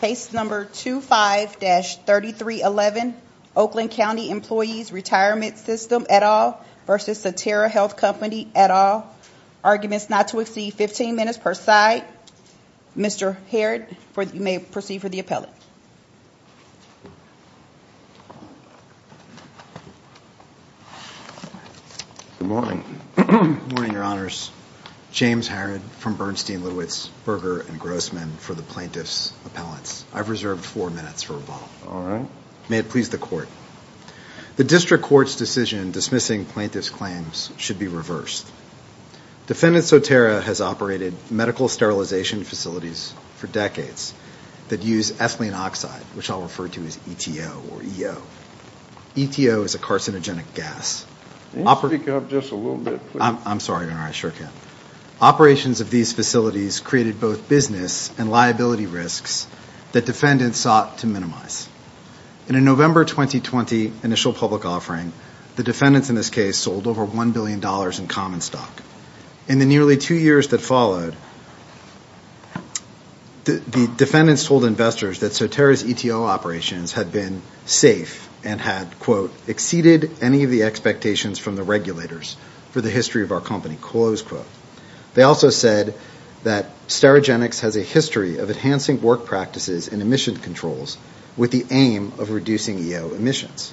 Case No. 25-3311 Oakland County Employees Retirement System et al. v. Sotera Health Company et al. Arguments not to exceed 15 minutes per side. Mr. Harrod, you may proceed for the appellate. Good morning. Good morning, Your Honors. James Harrod from Bernstein-Lewis Berger & Grossman for the plaintiff's appellants. I've reserved four minutes for rebuttal. All right. May it please the court. The district court's decision dismissing plaintiff's claims should be reversed. Defendant Sotera has operated medical sterilization facilities for decades that use ethylene oxide, which I'll refer to as ETO or EO. ETO is a carcinogenic gas. Can you speak up just a little bit, please? I'm sorry, Your Honor. I sure can. Operations of these facilities created both business and liability risks that defendants sought to minimize. In a November 2020 initial public offering, the defendants in this case sold over $1 billion in common stock. In the nearly two years that followed, the defendants told investors that Sotera's ETO operations had been safe and had, quote, exceeded any of the expectations from the regulators for the history of our company, close quote. They also said that Sterigenics has a history of enhancing work practices and emission controls with the aim of reducing EO emissions.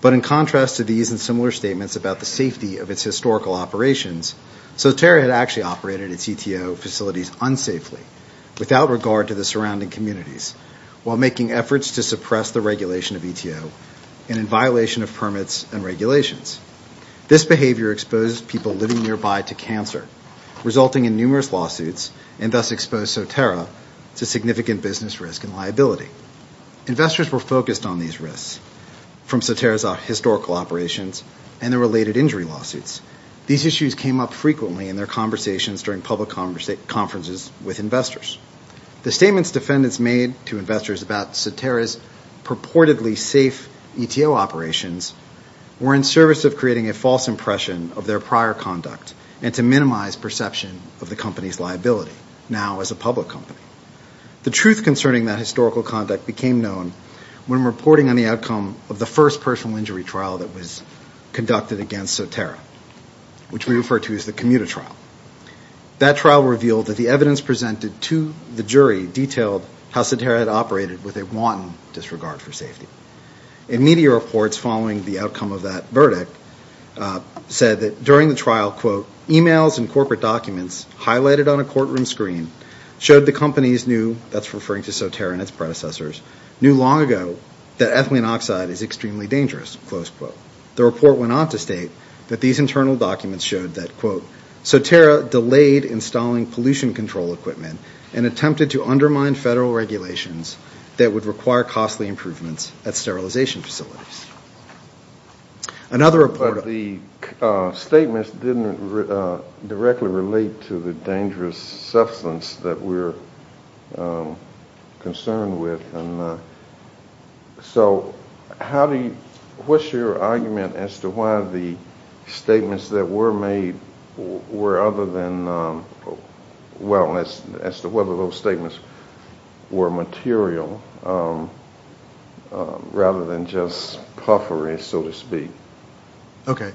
But in contrast to these and similar statements about the safety of its historical operations, Sotera had actually operated its ETO facilities unsafely, without regard to the surrounding communities, while making efforts to suppress the regulation of ETO and in violation of permits and regulations. This behavior exposed people living nearby to cancer, resulting in numerous lawsuits, and thus exposed Sotera to significant business risk and liability. Investors were focused on these risks from Sotera's historical operations and the related injury lawsuits. These issues came up frequently in their conversations during public conferences with investors. The statements defendants made to investors about Sotera's purportedly safe ETO operations were in service of creating a false impression of their prior conduct and to minimize perception of the company's liability now as a public company. The truth concerning that historical conduct became known when reporting on the outcome of the first personal injury trial that was conducted against Sotera, which we refer to as the Commuta trial. That trial revealed that the evidence presented to the jury detailed how Sotera had operated with a wanton disregard for safety. And media reports following the outcome of that verdict said that during the trial, quote, emails and corporate documents highlighted on a courtroom screen showed the companies knew, that's referring to Sotera and its predecessors, knew long ago that ethylene oxide is extremely dangerous, close quote. The report went on to state that these internal documents showed that, quote, Sotera delayed installing pollution control equipment and attempted to undermine federal regulations that would require costly improvements at sterilization facilities. But the statements didn't directly relate to the dangerous substance that we're concerned with. So how do you, what's your argument as to why the statements that were made were other than, well, as to whether those statements were material rather than just puffery, so to speak? Okay.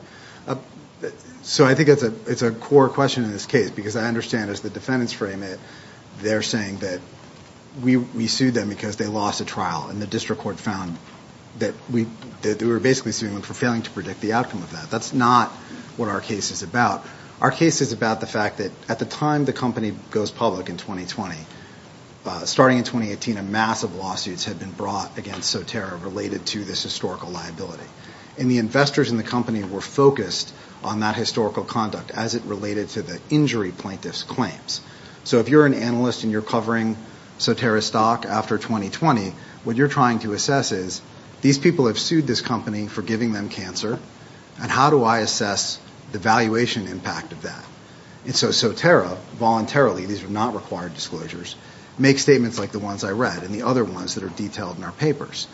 So I think it's a core question in this case because I understand as the defendants frame it, they're saying that we sued them because they lost a trial and the district court found that we were basically suing them for failing to predict the outcome of that. That's not what our case is about. Our case is about the fact that at the time the company goes public in 2020, starting in 2018, a mass of lawsuits had been brought against Sotera related to this historical liability. And the investors in the company were focused on that historical conduct as it related to the injury plaintiff's claims. So if you're an analyst and you're covering Sotera's stock after 2020, what you're trying to assess is, these people have sued this company for giving them cancer, and how do I assess the valuation impact of that? And so Sotera voluntarily, these are not required disclosures, makes statements like the ones I read and the other ones that are detailed in our papers.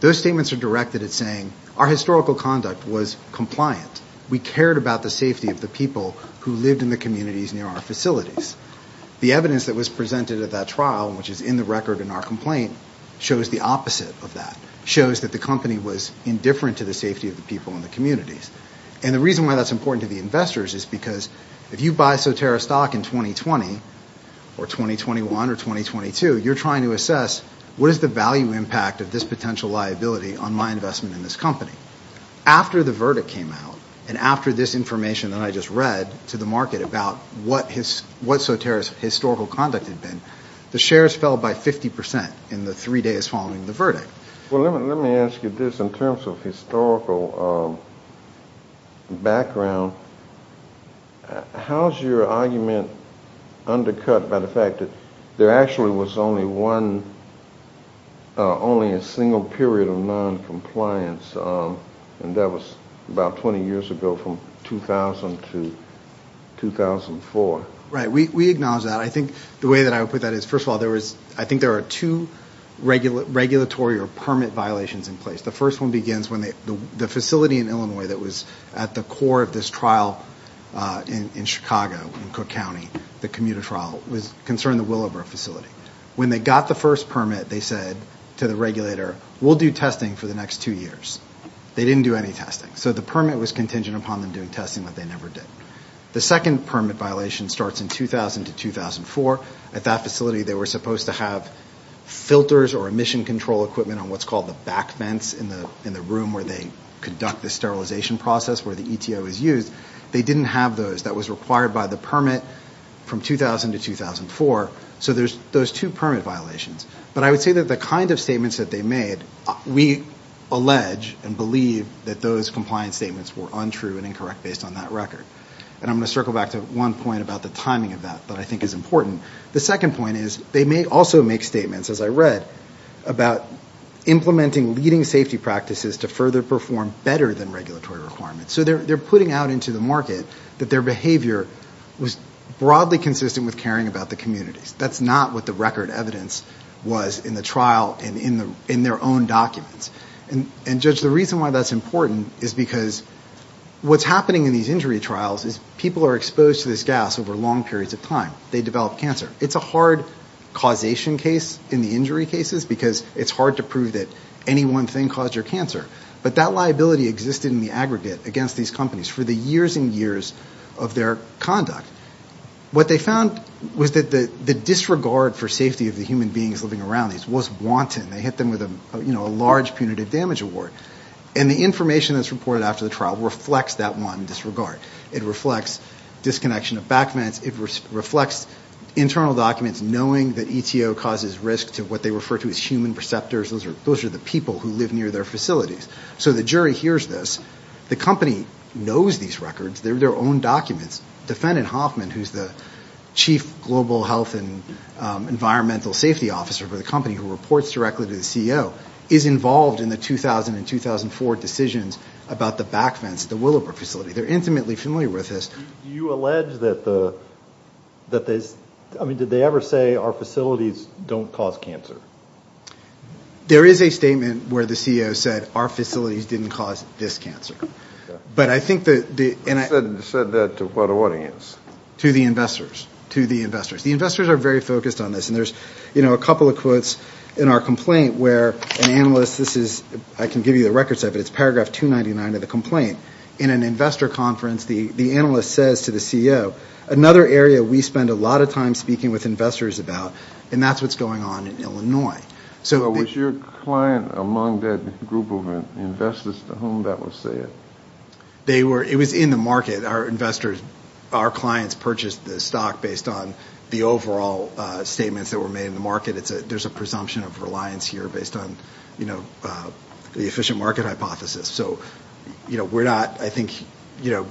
Those statements are directed at saying our historical conduct was compliant. We cared about the safety of the people who lived in the communities near our facilities. The evidence that was presented at that trial, which is in the record in our complaint, shows the opposite of that. It shows that the company was indifferent to the safety of the people in the communities. And the reason why that's important to the investors is because if you buy Sotera stock in 2020 or 2021 or 2022, you're trying to assess what is the value impact of this potential liability on my investment in this company. After the verdict came out and after this information that I just read to the market about what Sotera's historical conduct had been, the shares fell by 50 percent in the three days following the verdict. Well, let me ask you this. In terms of historical background, how is your argument undercut by the fact that there actually was only one, only a single period of noncompliance, and that was about 20 years ago from 2000 to 2004? Right. We acknowledge that. I think the way that I would put that is, first of all, I think there are two regulatory or permit violations in place. The first one begins when the facility in Illinois that was at the core of this trial in Chicago, in Cook County, the commuter trial, was concerning the Willowbrook facility. When they got the first permit, they said to the regulator, we'll do testing for the next two years. They didn't do any testing. So the permit was contingent upon them doing testing, but they never did. The second permit violation starts in 2000 to 2004. At that facility, they were supposed to have filters or emission control equipment on what's called the back vents in the room where they conduct the sterilization process where the ETO is used. They didn't have those. That was required by the permit from 2000 to 2004. So there's those two permit violations. But I would say that the kind of statements that they made, we allege and believe that those compliance statements were untrue and incorrect based on that record. And I'm going to circle back to one point about the timing of that that I think is important. The second point is they may also make statements, as I read, about implementing leading safety practices to further perform better than regulatory requirements. So they're putting out into the market that their behavior was broadly consistent with caring about the communities. That's not what the record evidence was in the trial and in their own documents. And, Judge, the reason why that's important is because what's happening in these injury trials is people are exposed to this gas over long periods of time. They develop cancer. It's a hard causation case in the injury cases because it's hard to prove that any one thing caused your cancer. But that liability existed in the aggregate against these companies for the years and years of their conduct. What they found was that the disregard for safety of the human beings living around these was wanton. They hit them with a large punitive damage award. And the information that's reported after the trial reflects that wanton disregard. It reflects disconnection of back meds. It reflects internal documents knowing that ETO causes risk to what they refer to as human receptors. Those are the people who live near their facilities. So the jury hears this. The company knows these records. They're their own documents. Defendant Hoffman, who's the chief global health and environmental safety officer for the company who reports directly to the CEO, is involved in the 2000 and 2004 decisions about the back fence at the Willowbrook facility. They're intimately familiar with this. Do you allege that the ‑‑ I mean, did they ever say our facilities don't cause cancer? There is a statement where the CEO said our facilities didn't cause this cancer. But I think the ‑‑ Who said that to what audience? To the investors. To the investors. The investors are very focused on this. And there's a couple of quotes in our complaint where an analyst, this is, I can give you the records of it, it's paragraph 299 of the complaint. In an investor conference, the analyst says to the CEO, another area we spend a lot of time speaking with investors about, and that's what's going on in Illinois. So was your client among that group of investors to whom that was said? They were ‑‑ it was in the market. Our investors, our clients purchased the stock based on the overall statements that were made in the market. There's a presumption of reliance here based on, you know, the efficient market hypothesis. So, you know, we're not, I think, you know,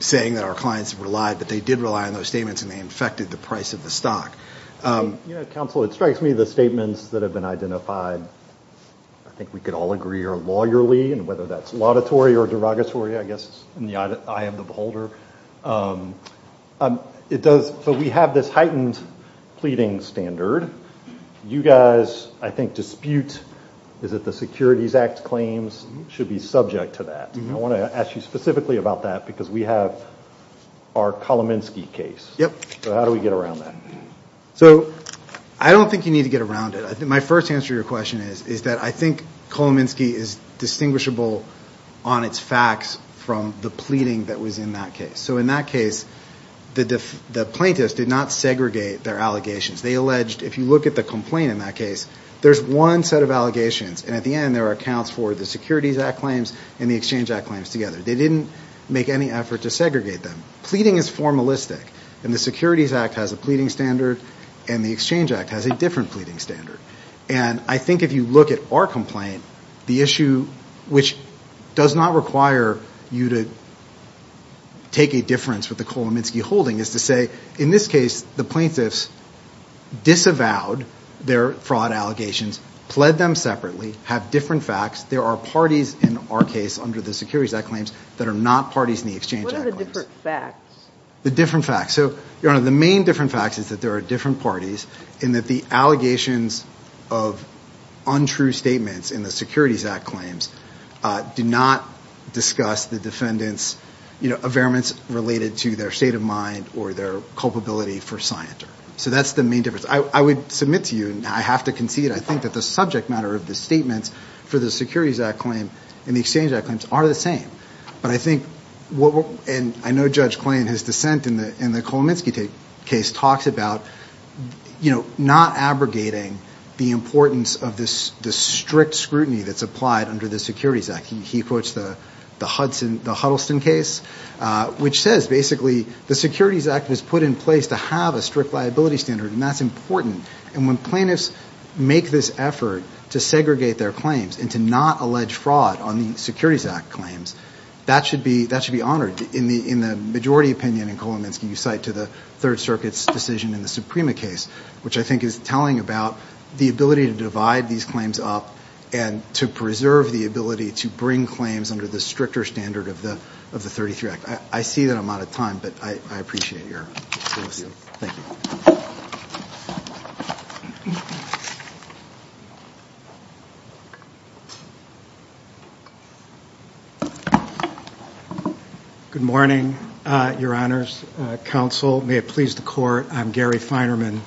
saying that our clients have relied, but they did rely on those statements and they infected the price of the stock. You know, counsel, it strikes me the statements that have been identified, I think we could all agree are lawyerly, and whether that's laudatory or derogatory, I guess it's in the eye of the beholder. It does, but we have this heightened pleading standard. You guys, I think, dispute, is it the Securities Act claims should be subject to that. I want to ask you specifically about that because we have our Kolomensky case. Yep. So how do we get around that? So I don't think you need to get around it. My first answer to your question is that I think Kolomensky is distinguishable on its facts from the pleading that was in that case. So in that case, the plaintiffs did not segregate their allegations. They alleged, if you look at the complaint in that case, there's one set of allegations, and at the end there are accounts for the Securities Act claims and the Exchange Act claims together. They didn't make any effort to segregate them. Pleading is formalistic, and the Securities Act has a pleading standard, and the Exchange Act has a different pleading standard. And I think if you look at our complaint, the issue which does not require you to take a difference with the Kolomensky holding is to say, in this case, the plaintiffs disavowed their fraud allegations, pled them separately, have different facts. There are parties in our case under the Securities Act claims that are not parties in the Exchange Act claims. What are the different facts? The different facts. So, Your Honor, the main different fact is that there are different parties and that the allegations of untrue statements in the Securities Act claims do not discuss the defendant's, you know, affairments related to their state of mind or their culpability for scienter. So that's the main difference. I would submit to you, and I have to concede, I think that the subject matter of the statements for the Securities Act claim and the Exchange Act claims are the same. But I think, and I know Judge Klain, his dissent in the Kolomensky case, talks about, you know, not abrogating the importance of the strict scrutiny that's applied under the Securities Act. He quotes the Hudson, the Huddleston case, which says, basically, the Securities Act was put in place to have a strict liability standard, and that's important. And when plaintiffs make this effort to segregate their claims and to not allege fraud on the Securities Act claims, that should be honored. In the majority opinion in Kolomensky, you cite to the Third Circuit's decision in the Suprema case, which I think is telling about the ability to divide these claims up and to preserve the ability to bring claims under the stricter standard of the 33 Act. I see that I'm out of time, but I appreciate your solicitude. Thank you. Good morning, Your Honors. Counsel, may it please the Court, I'm Gary Feinerman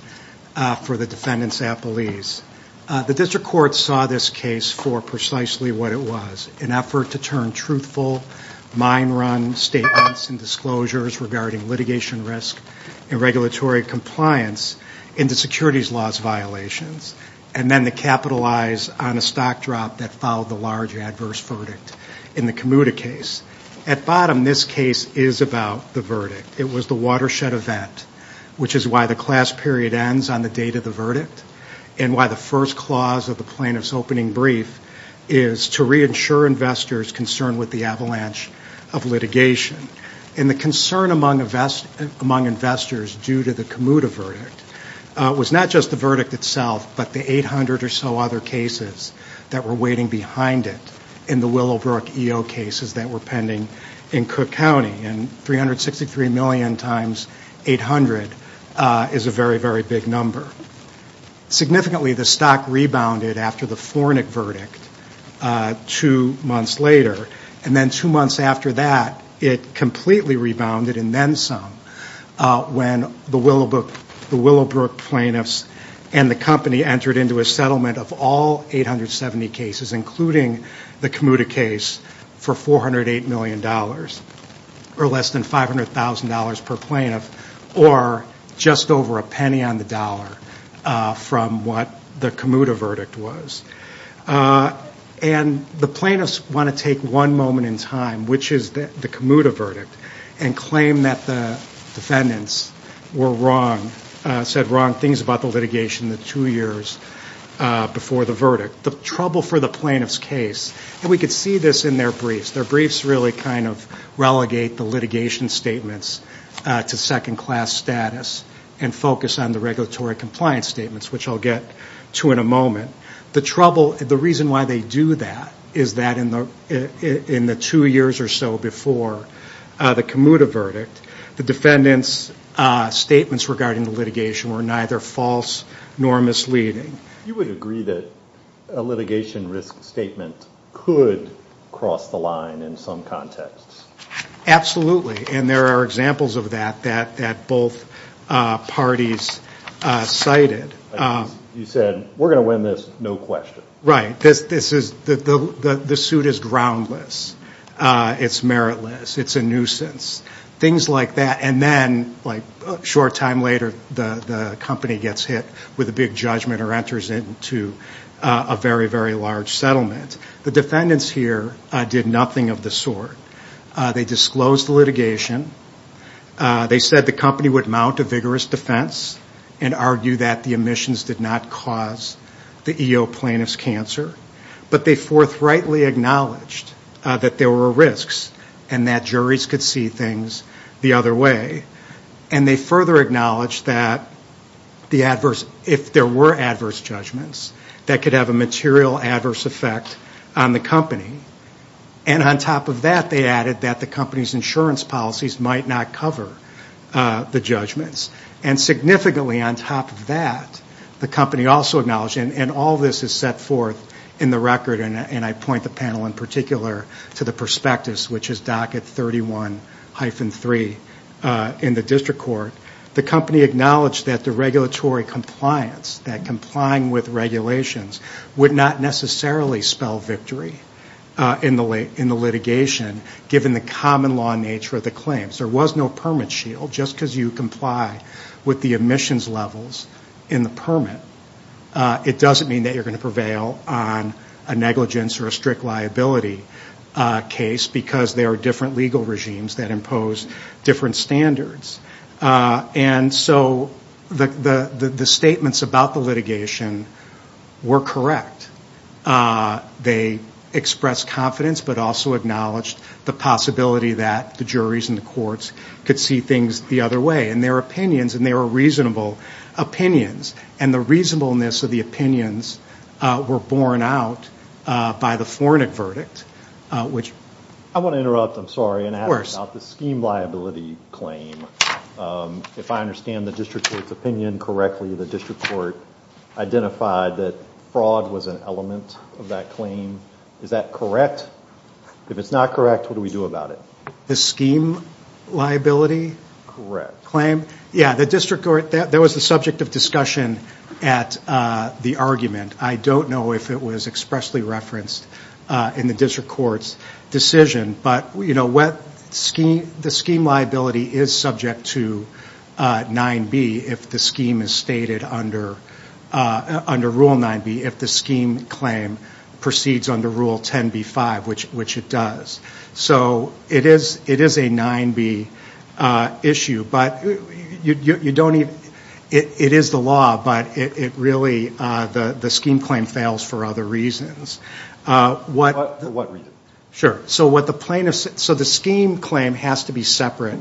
for the defendants' appellees. The district court saw this case for precisely what it was, an effort to turn truthful, mind-run statements and disclosures regarding litigation risk and regulatory compliance into securities laws violations, and then to capitalize on a stock drop that followed the large adverse verdict in the Komuda case. At bottom, this case is about the verdict. It was the watershed event, which is why the class period ends on the date of the verdict and why the first clause of the plaintiff's opening brief is to reassure investors concerned with the avalanche of litigation. And the concern among investors due to the Komuda verdict was not just the verdict itself, but the 800 or so other cases that were waiting behind it in the Willowbrook EO cases that were pending in Cook County. And 363 million times 800 is a very, very big number. Significantly, the stock rebounded after the Fornic verdict two months later. And then two months after that, it completely rebounded, and then some, when the Willowbrook plaintiffs and the company entered into a settlement of all 870 cases, including the Komuda case, for $408 million or less than $500,000 per plaintiff or just over a penny on the dollar from what the Komuda verdict was. And the plaintiffs want to take one moment in time, which is the Komuda verdict, and claim that the defendants were wrong, said wrong things about the litigation the two years before the verdict. The trouble for the plaintiffs' case, and we could see this in their briefs. Their briefs really kind of relegate the litigation statements to second-class status and focus on the regulatory compliance statements, which I'll get to in a moment. The trouble, the reason why they do that is that in the two years or so before the Komuda verdict, the defendants' statements regarding the litigation were neither false nor misleading. You would agree that a litigation risk statement could cross the line in some contexts. And there are examples of that that both parties cited. You said, we're going to win this, no question. Right. The suit is groundless. It's meritless. It's a nuisance. Things like that. And then, like, a short time later, the company gets hit with a big judgment or enters into a very, very large settlement. The defendants here did nothing of the sort. They disclosed the litigation. They said the company would mount a vigorous defense and argue that the omissions did not cause the EO plaintiff's cancer. But they forthrightly acknowledged that there were risks and that juries could see things the other way. And they further acknowledged that if there were adverse judgments, that could have a material adverse effect on the company. And on top of that, they added that the company's insurance policies might not cover the judgments. And significantly on top of that, the company also acknowledged, and all of this is set forth in the record, and I point the panel in particular to the prospectus, which is docket 31-3 in the district court. The company acknowledged that the regulatory compliance, that complying with regulations would not necessarily spell victory in the litigation, given the common law nature of the claims. There was no permit shield. Just because you comply with the omissions levels in the permit, it doesn't mean that you're going to prevail on a negligence or a strict liability case, because there are different legal regimes that impose different standards. And so the statements about the litigation were correct. They expressed confidence, but also acknowledged the possibility that the juries and the courts could see things the other way. And their opinions, and they were reasonable opinions, and the reasonableness of the opinions were borne out by the Fornic verdict. I want to interrupt, I'm sorry, and ask about the scheme liability claim. If I understand the district court's opinion correctly, the district court identified that fraud was an element of that claim. Is that correct? If it's not correct, what do we do about it? The scheme liability claim? Correct. Yeah, the district court, that was the subject of discussion at the argument. I don't know if it was expressly referenced in the district court's decision, but, you know, the scheme liability is subject to 9B if the scheme is stated under Rule 9B, if the scheme claim proceeds under Rule 10B-5, which it does. So it is a 9B issue, but you don't even, it is the law, but it really, the scheme claim fails for other reasons. For what reasons? Sure. So the scheme claim has to be separate.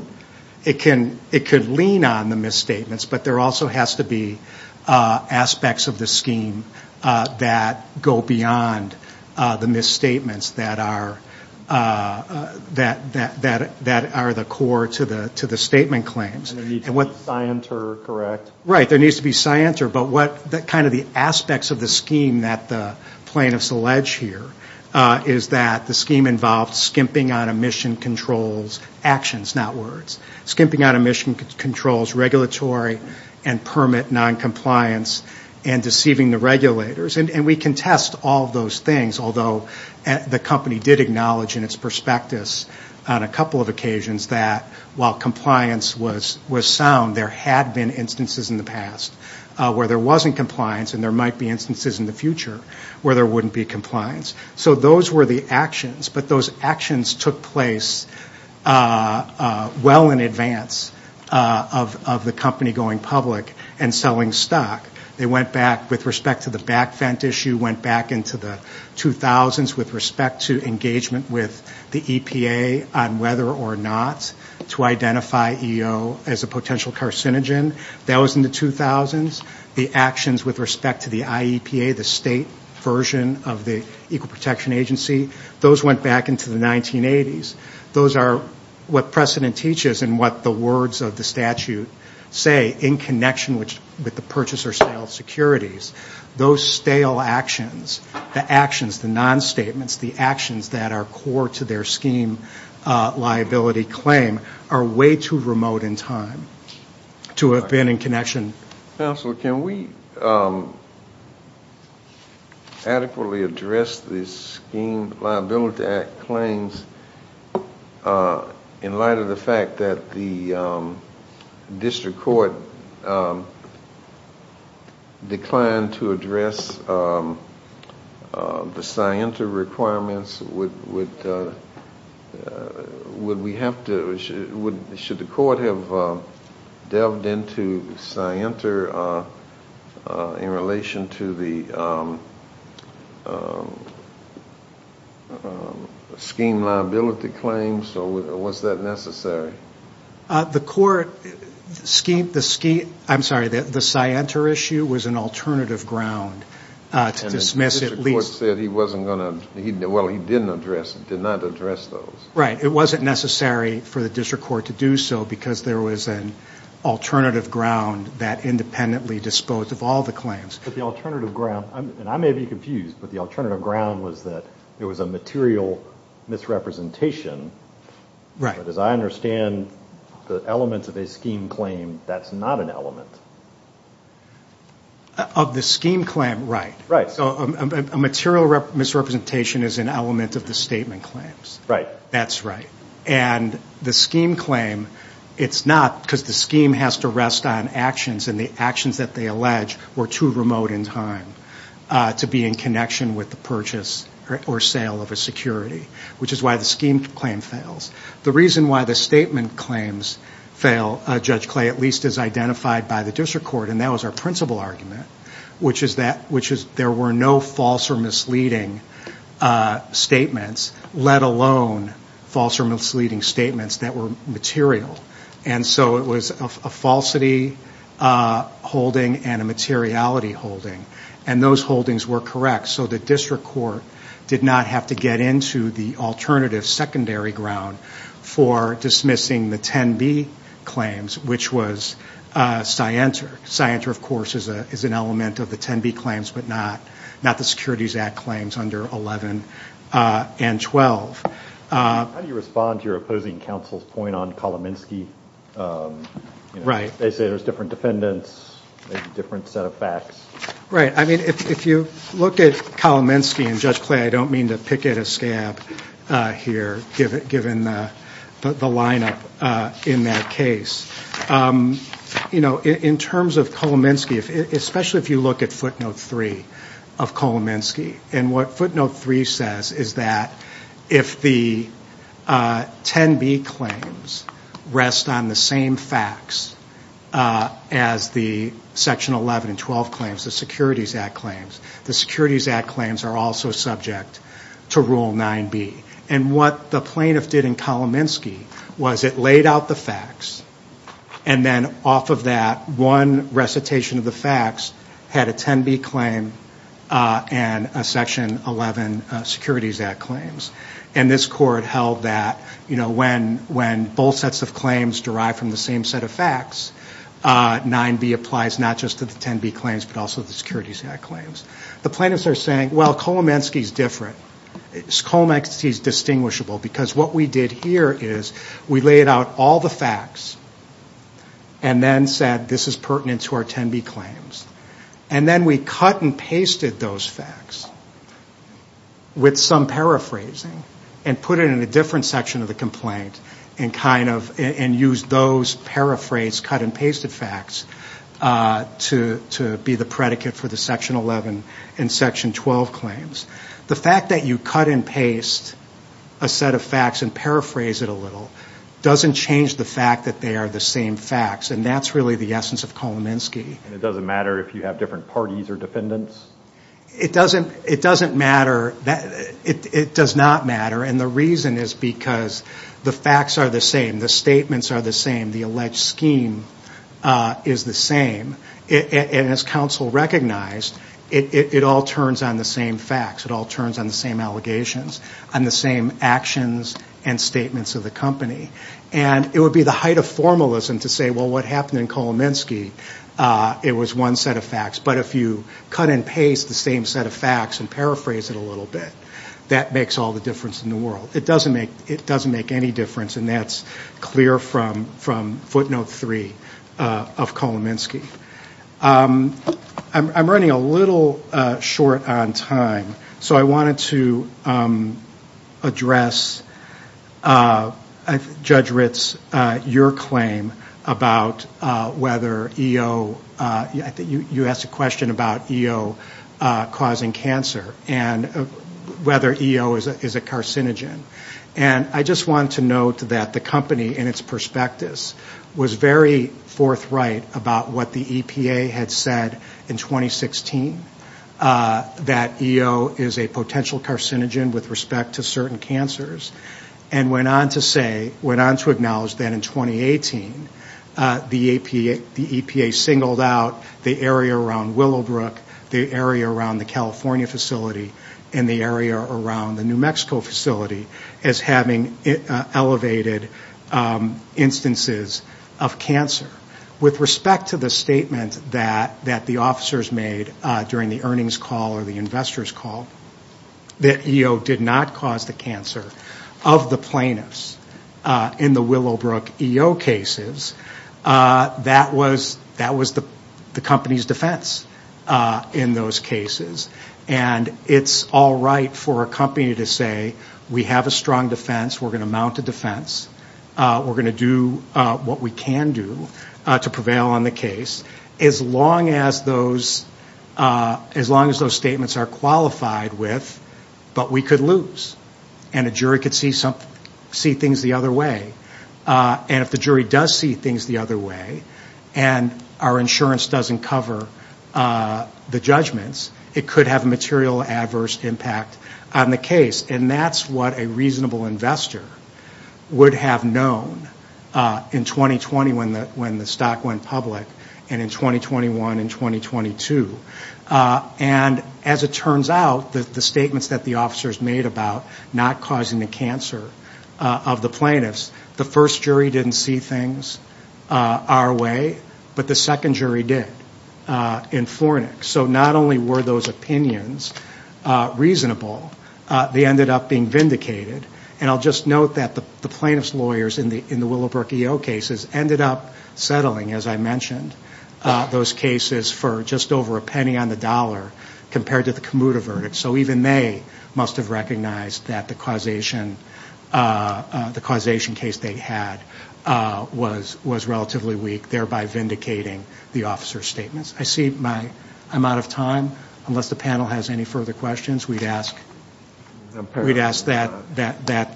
It could lean on the misstatements, but there also has to be aspects of the scheme that go beyond the misstatements that are the core to the statement claims. And there needs to be scienter, correct? Right, there needs to be scienter, but kind of the aspects of the scheme that the plaintiffs allege here is that the scheme involves skimping on emission controls actions, not words, skimping on emission controls regulatory and permit noncompliance and deceiving the regulators. And we can test all of those things, although the company did acknowledge in its prospectus on a couple of occasions that while compliance was sound, there had been instances in the past where there wasn't compliance, and there might be instances in the future where there wouldn't be compliance. So those were the actions, but those actions took place well in advance of the company going public and selling stock. They went back with respect to the back vent issue, went back into the 2000s with respect to engagement with the EPA on whether or not to identify EO as a potential carcinogen. That was in the 2000s. The actions with respect to the IEPA, the state version of the Equal Protection Agency, those went back into the 1980s. Those are what precedent teaches and what the words of the statute say in connection with the purchaser sale securities. Those stale actions, the actions, the non-statements, the actions that are core to their scheme liability claim are way too remote in time to have been in connection. Counsel, can we adequately address the Scheme Liability Act claims in light of the fact that the district court declined to address the SIENTA requirements? Should the court have delved into SIENTA in relation to the scheme liability claims, or was that necessary? The court, I'm sorry, the SIENTA issue was an alternative ground to dismiss at least. The court said he wasn't going to, well, he didn't address, did not address those. Right. It wasn't necessary for the district court to do so because there was an alternative ground that independently disposed of all the claims. But the alternative ground, and I may be confused, but the alternative ground was that there was a material misrepresentation. Right. But as I understand the elements of a scheme claim, that's not an element. Of the scheme claim, right. So a material misrepresentation is an element of the statement claims. Right. That's right. And the scheme claim, it's not because the scheme has to rest on actions, and the actions that they allege were too remote in time to be in connection with the purchase or sale of a security, which is why the scheme claim fails. The reason why the statement claims fail, Judge Clay, at least as identified by the district court, and that was our principal argument, which is that there were no false or misleading statements, let alone false or misleading statements that were material. And so it was a falsity holding and a materiality holding. And those holdings were correct, so the district court did not have to get into the alternative secondary ground for dismissing the 10B claims, which was Scienter. Scienter, of course, is an element of the 10B claims, but not the Securities Act claims under 11 and 12. How do you respond to your opposing counsel's point on Kolomensky? Right. They say there's different defendants, maybe a different set of facts. Right. I mean, if you look at Kolomensky and Judge Clay, I don't mean to pick at a scab here given the lineup in that case. You know, in terms of Kolomensky, especially if you look at footnote three of Kolomensky, and what footnote three says is that if the 10B claims rest on the same facts as the Section 11 and 12 claims, the Securities Act claims, the Securities Act claims are also subject to Rule 9B. And what the plaintiff did in Kolomensky was it laid out the facts and then off of that one recitation of the facts had a 10B claim and a Section 11 Securities Act claims. And this court held that, you know, when both sets of claims derive from the same set of facts, 9B applies not just to the 10B claims but also the Securities Act claims. The plaintiffs are saying, well, Kolomensky is different. Kolomensky is distinguishable because what we did here is we laid out all the facts and then said this is pertinent to our 10B claims. And then we cut and pasted those facts with some paraphrasing and put it in a different section of the complaint and used those paraphrased cut and pasted facts to be the predicate for the Section 11 and Section 12 claims. The fact that you cut and paste a set of facts and paraphrase it a little doesn't change the fact that they are the same facts, and that's really the essence of Kolomensky. And it doesn't matter if you have different parties or defendants? It doesn't matter. It does not matter. And the reason is because the facts are the same, the statements are the same, the alleged scheme is the same. And as counsel recognized, it all turns on the same facts. It all turns on the same allegations, on the same actions and statements of the company. And it would be the height of formalism to say, well, what happened in Kolomensky? It was one set of facts. But if you cut and paste the same set of facts and paraphrase it a little bit, that makes all the difference in the world. It doesn't make any difference, and that's clear from footnote three of Kolomensky. I'm running a little short on time, so I wanted to address, Judge Ritz, your claim about whether EO, you asked a question about EO causing cancer and whether EO is a carcinogen. And I just wanted to note that the company in its prospectus was very forthright about what the EPA had said in 2016, that EO is a potential carcinogen with respect to certain cancers, and went on to acknowledge that in 2018, the EPA singled out the area around Willowbrook, the area around the California facility, and the area around the New Mexico facility as having elevated instances of cancer. With respect to the statement that the officers made during the earnings call or the investors call, that EO did not cause the cancer of the plaintiffs in the Willowbrook EO cases, that was the company's defense in those cases. And it's all right for a company to say, we have a strong defense, we're going to mount a defense, we're going to do what we can do to prevail on the case, as long as those statements are qualified with, but we could lose. And a jury could see things the other way. And if the jury does see things the other way, and our insurance doesn't cover the judgments, it could have a material adverse impact on the case. And that's what a reasonable investor would have known in 2020 when the stock went public and in 2021 and 2022. And as it turns out, the statements that the officers made about not causing the cancer of the plaintiffs, the first jury didn't see things our way, but the second jury did in Fornix. So not only were those opinions reasonable, they ended up being vindicated. And I'll just note that the plaintiff's lawyers in the Willowbrook EO cases ended up settling, as I mentioned, those cases for just over a penny on the dollar compared to the Commuda verdict. So even they must have recognized that the causation case they had was relatively weak, thereby vindicating the officer's statements. I see I'm out of time. Unless the panel has any further questions, we'd ask that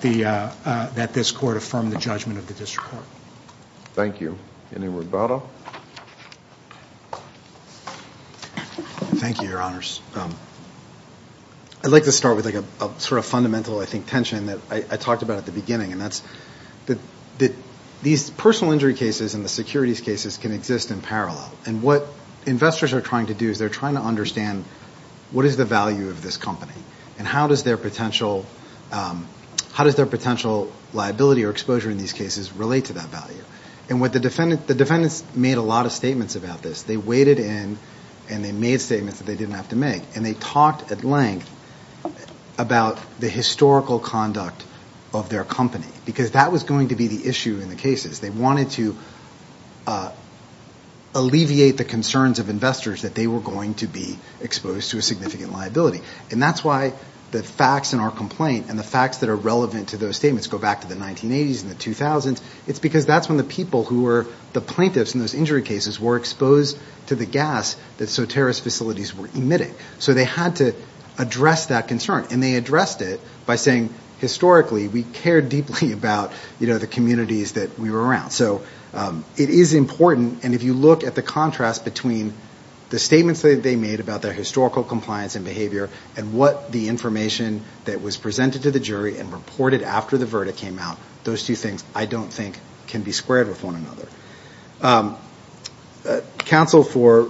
this court affirm the judgment of the district court. Thank you. Any word about it? Thank you, Your Honors. I'd like to start with a sort of fundamental, I think, tension that I talked about at the beginning, and that's that these personal injury cases and the securities cases can exist in parallel. And what investors are trying to do is they're trying to understand, what is the value of this company? And how does their potential liability or exposure in these cases relate to that value? And the defendants made a lot of statements about this. They waded in and they made statements that they didn't have to make. And they talked at length about the historical conduct of their company, because that was going to be the issue in the cases. They wanted to alleviate the concerns of investors that they were going to be exposed to a significant liability. And that's why the facts in our complaint and the facts that are relevant to those statements go back to the 1980s and the 2000s. It's because that's when the people who were the plaintiffs in those injury cases were exposed to the gas that Soterra's facilities were emitting. So they had to address that concern. And they addressed it by saying, historically, we care deeply about the communities that we were around. So it is important. And if you look at the contrast between the statements that they made about their historical compliance and behavior, and what the information that was presented to the jury and reported after the verdict came out, those two things, I don't think, can be squared with one another. Counsel for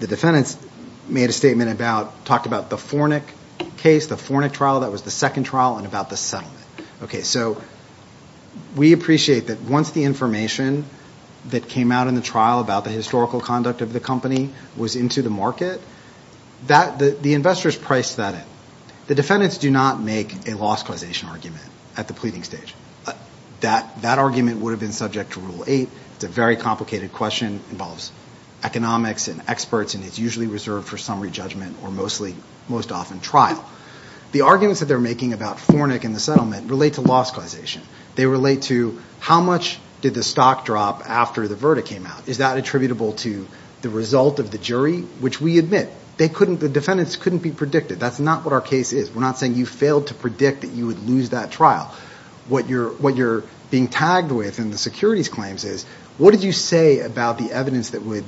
the defendants made a statement about, talked about the Fornic case, the Fornic trial, that was the second trial, and about the settlement. So we appreciate that once the information that came out in the trial about the historical conduct of the company was into the market, the investors priced that in. The defendants do not make a loss causation argument at the pleading stage. That argument would have been subject to Rule 8. It's a very complicated question. It involves economics and experts, and it's usually reserved for summary judgment or mostly, most often, trial. The arguments that they're making about Fornic and the settlement relate to loss causation. They relate to, how much did the stock drop after the verdict came out? Is that attributable to the result of the jury? Which we admit, the defendants couldn't be predicted. That's not what our case is. We're not saying you failed to predict that you would lose that trial. What you're being tagged with in the securities claims is, what did you say about the evidence that would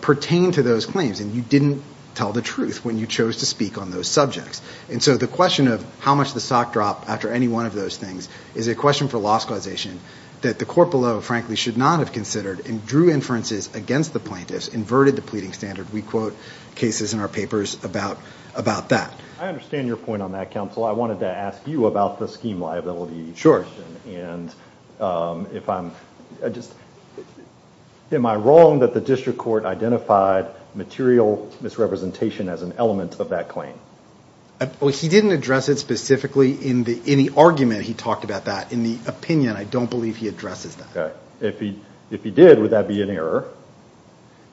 pertain to those claims? And you didn't tell the truth when you chose to speak on those subjects. And so the question of how much the stock dropped after any one of those things is a question for loss causation that the court below, frankly, should not have considered and drew inferences against the plaintiffs, inverted the pleading standard. We quote cases in our papers about that. I understand your point on that, counsel. I wanted to ask you about the scheme liability. Sure. That's a good question. Am I wrong that the district court identified material misrepresentation as an element of that claim? He didn't address it specifically in the argument he talked about that. In the opinion, I don't believe he addresses that. If he did, would that be an error?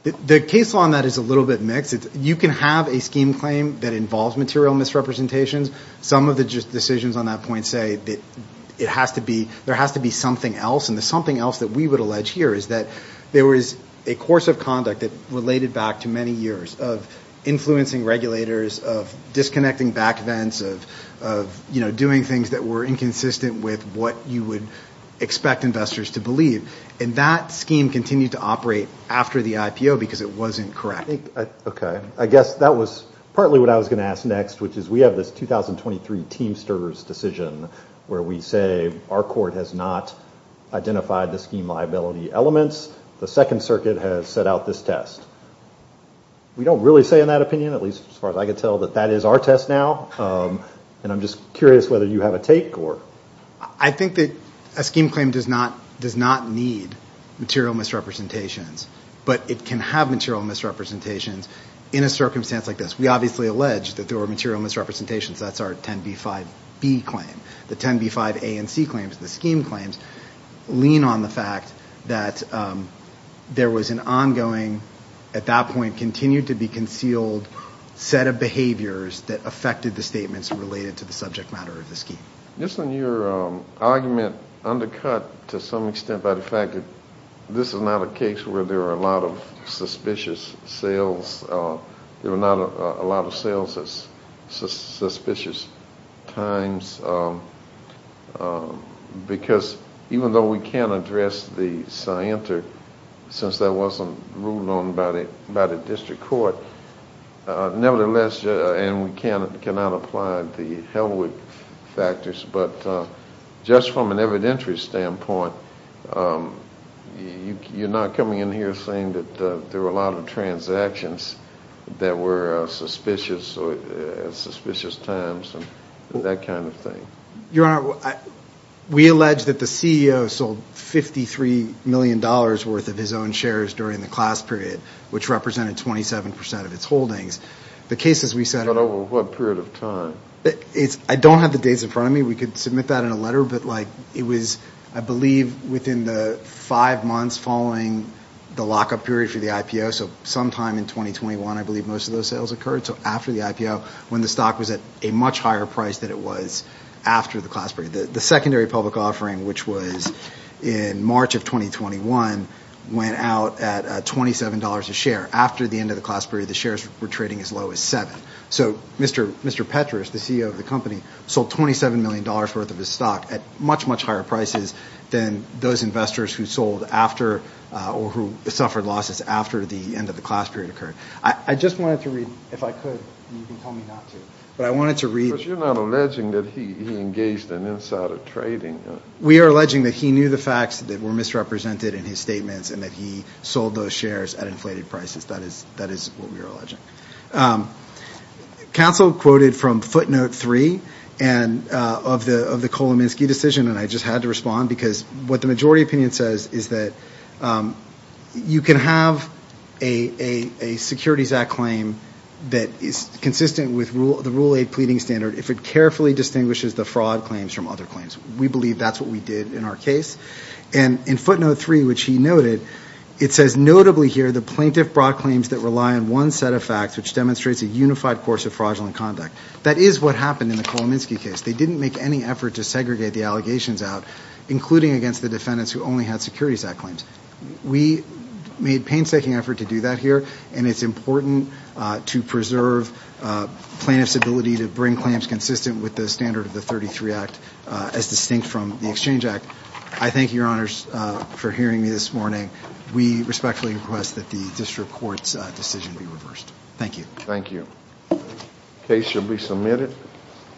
The case law on that is a little bit mixed. You can have a scheme claim that involves material misrepresentations. Some of the decisions on that point say that there has to be something else, and the something else that we would allege here is that there was a course of conduct that related back to many years of influencing regulators, of disconnecting back vents, of doing things that were inconsistent with what you would expect investors to believe. And that scheme continued to operate after the IPO because it wasn't correct. I guess that was partly what I was going to ask next, which is we have this 2023 Teamsters decision where we say our court has not identified the scheme liability elements. The Second Circuit has set out this test. We don't really say in that opinion, at least as far as I can tell, that that is our test now. And I'm just curious whether you have a take. I think that a scheme claim does not need material misrepresentations, but it can have material misrepresentations in a circumstance like this. We obviously allege that there were material misrepresentations. That's our 10b-5b claim. The 10b-5a and c claims, the scheme claims, lean on the fact that there was an ongoing, at that point continued to be concealed, set of behaviors that affected the statements related to the subject matter of the scheme. Just on your argument undercut to some extent by the fact that this is not a case where there are a lot of suspicious sales. There were not a lot of sales at suspicious times because even though we can address the scienter since that wasn't ruled on by the district court, nevertheless, and we cannot apply the Helwig factors, but just from an evidentiary standpoint, you're not coming in here saying that there were a lot of transactions that were suspicious at suspicious times and that kind of thing. Your Honor, we allege that the CEO sold $53 million worth of his own shares during the class period, which represented 27% of its holdings. But over what period of time? I don't have the dates in front of me. We could submit that in a letter, but it was, I believe, within the five months following the lockup period for the IPO. Sometime in 2021, I believe, most of those sales occurred. So after the IPO, when the stock was at a much higher price than it was after the class period. The secondary public offering, which was in March of 2021, went out at $27 a share. After the end of the class period, the shares were trading as low as seven. So Mr. Petrus, the CEO of the company, sold $27 million worth of his stock at much, much higher prices than those investors who sold after, or who suffered losses after the end of the class period occurred. I just wanted to read, if I could, and you can tell me not to, but I wanted to read... But you're not alleging that he engaged in insider trading? We are alleging that he knew the facts that were misrepresented in his statements and that he sold those shares at inflated prices. That is what we are alleging. Council quoted from footnote three of the Kolominsky decision, and I just had to respond because what the majority opinion says is that you can have a Securities Act claim that is consistent with the Rule 8 pleading standard if it carefully distinguishes the fraud claims from other claims. We believe that's what we did in our case. And in footnote three, which he noted, it says notably here the plaintiff brought claims that rely on one set of facts which demonstrates a unified course of fraudulent conduct. That is what happened in the Kolominsky case. They didn't make any effort to segregate the allegations out, including against the defendants who only had Securities Act claims. We made painstaking effort to do that here, and it's important to preserve plaintiffs' ability to bring claims consistent with the standard of the 33 Act as distinct from the Exchange Act. I thank you, Your Honors, for hearing me this morning. We respectfully request that the District Court's decision be reversed. Thank you.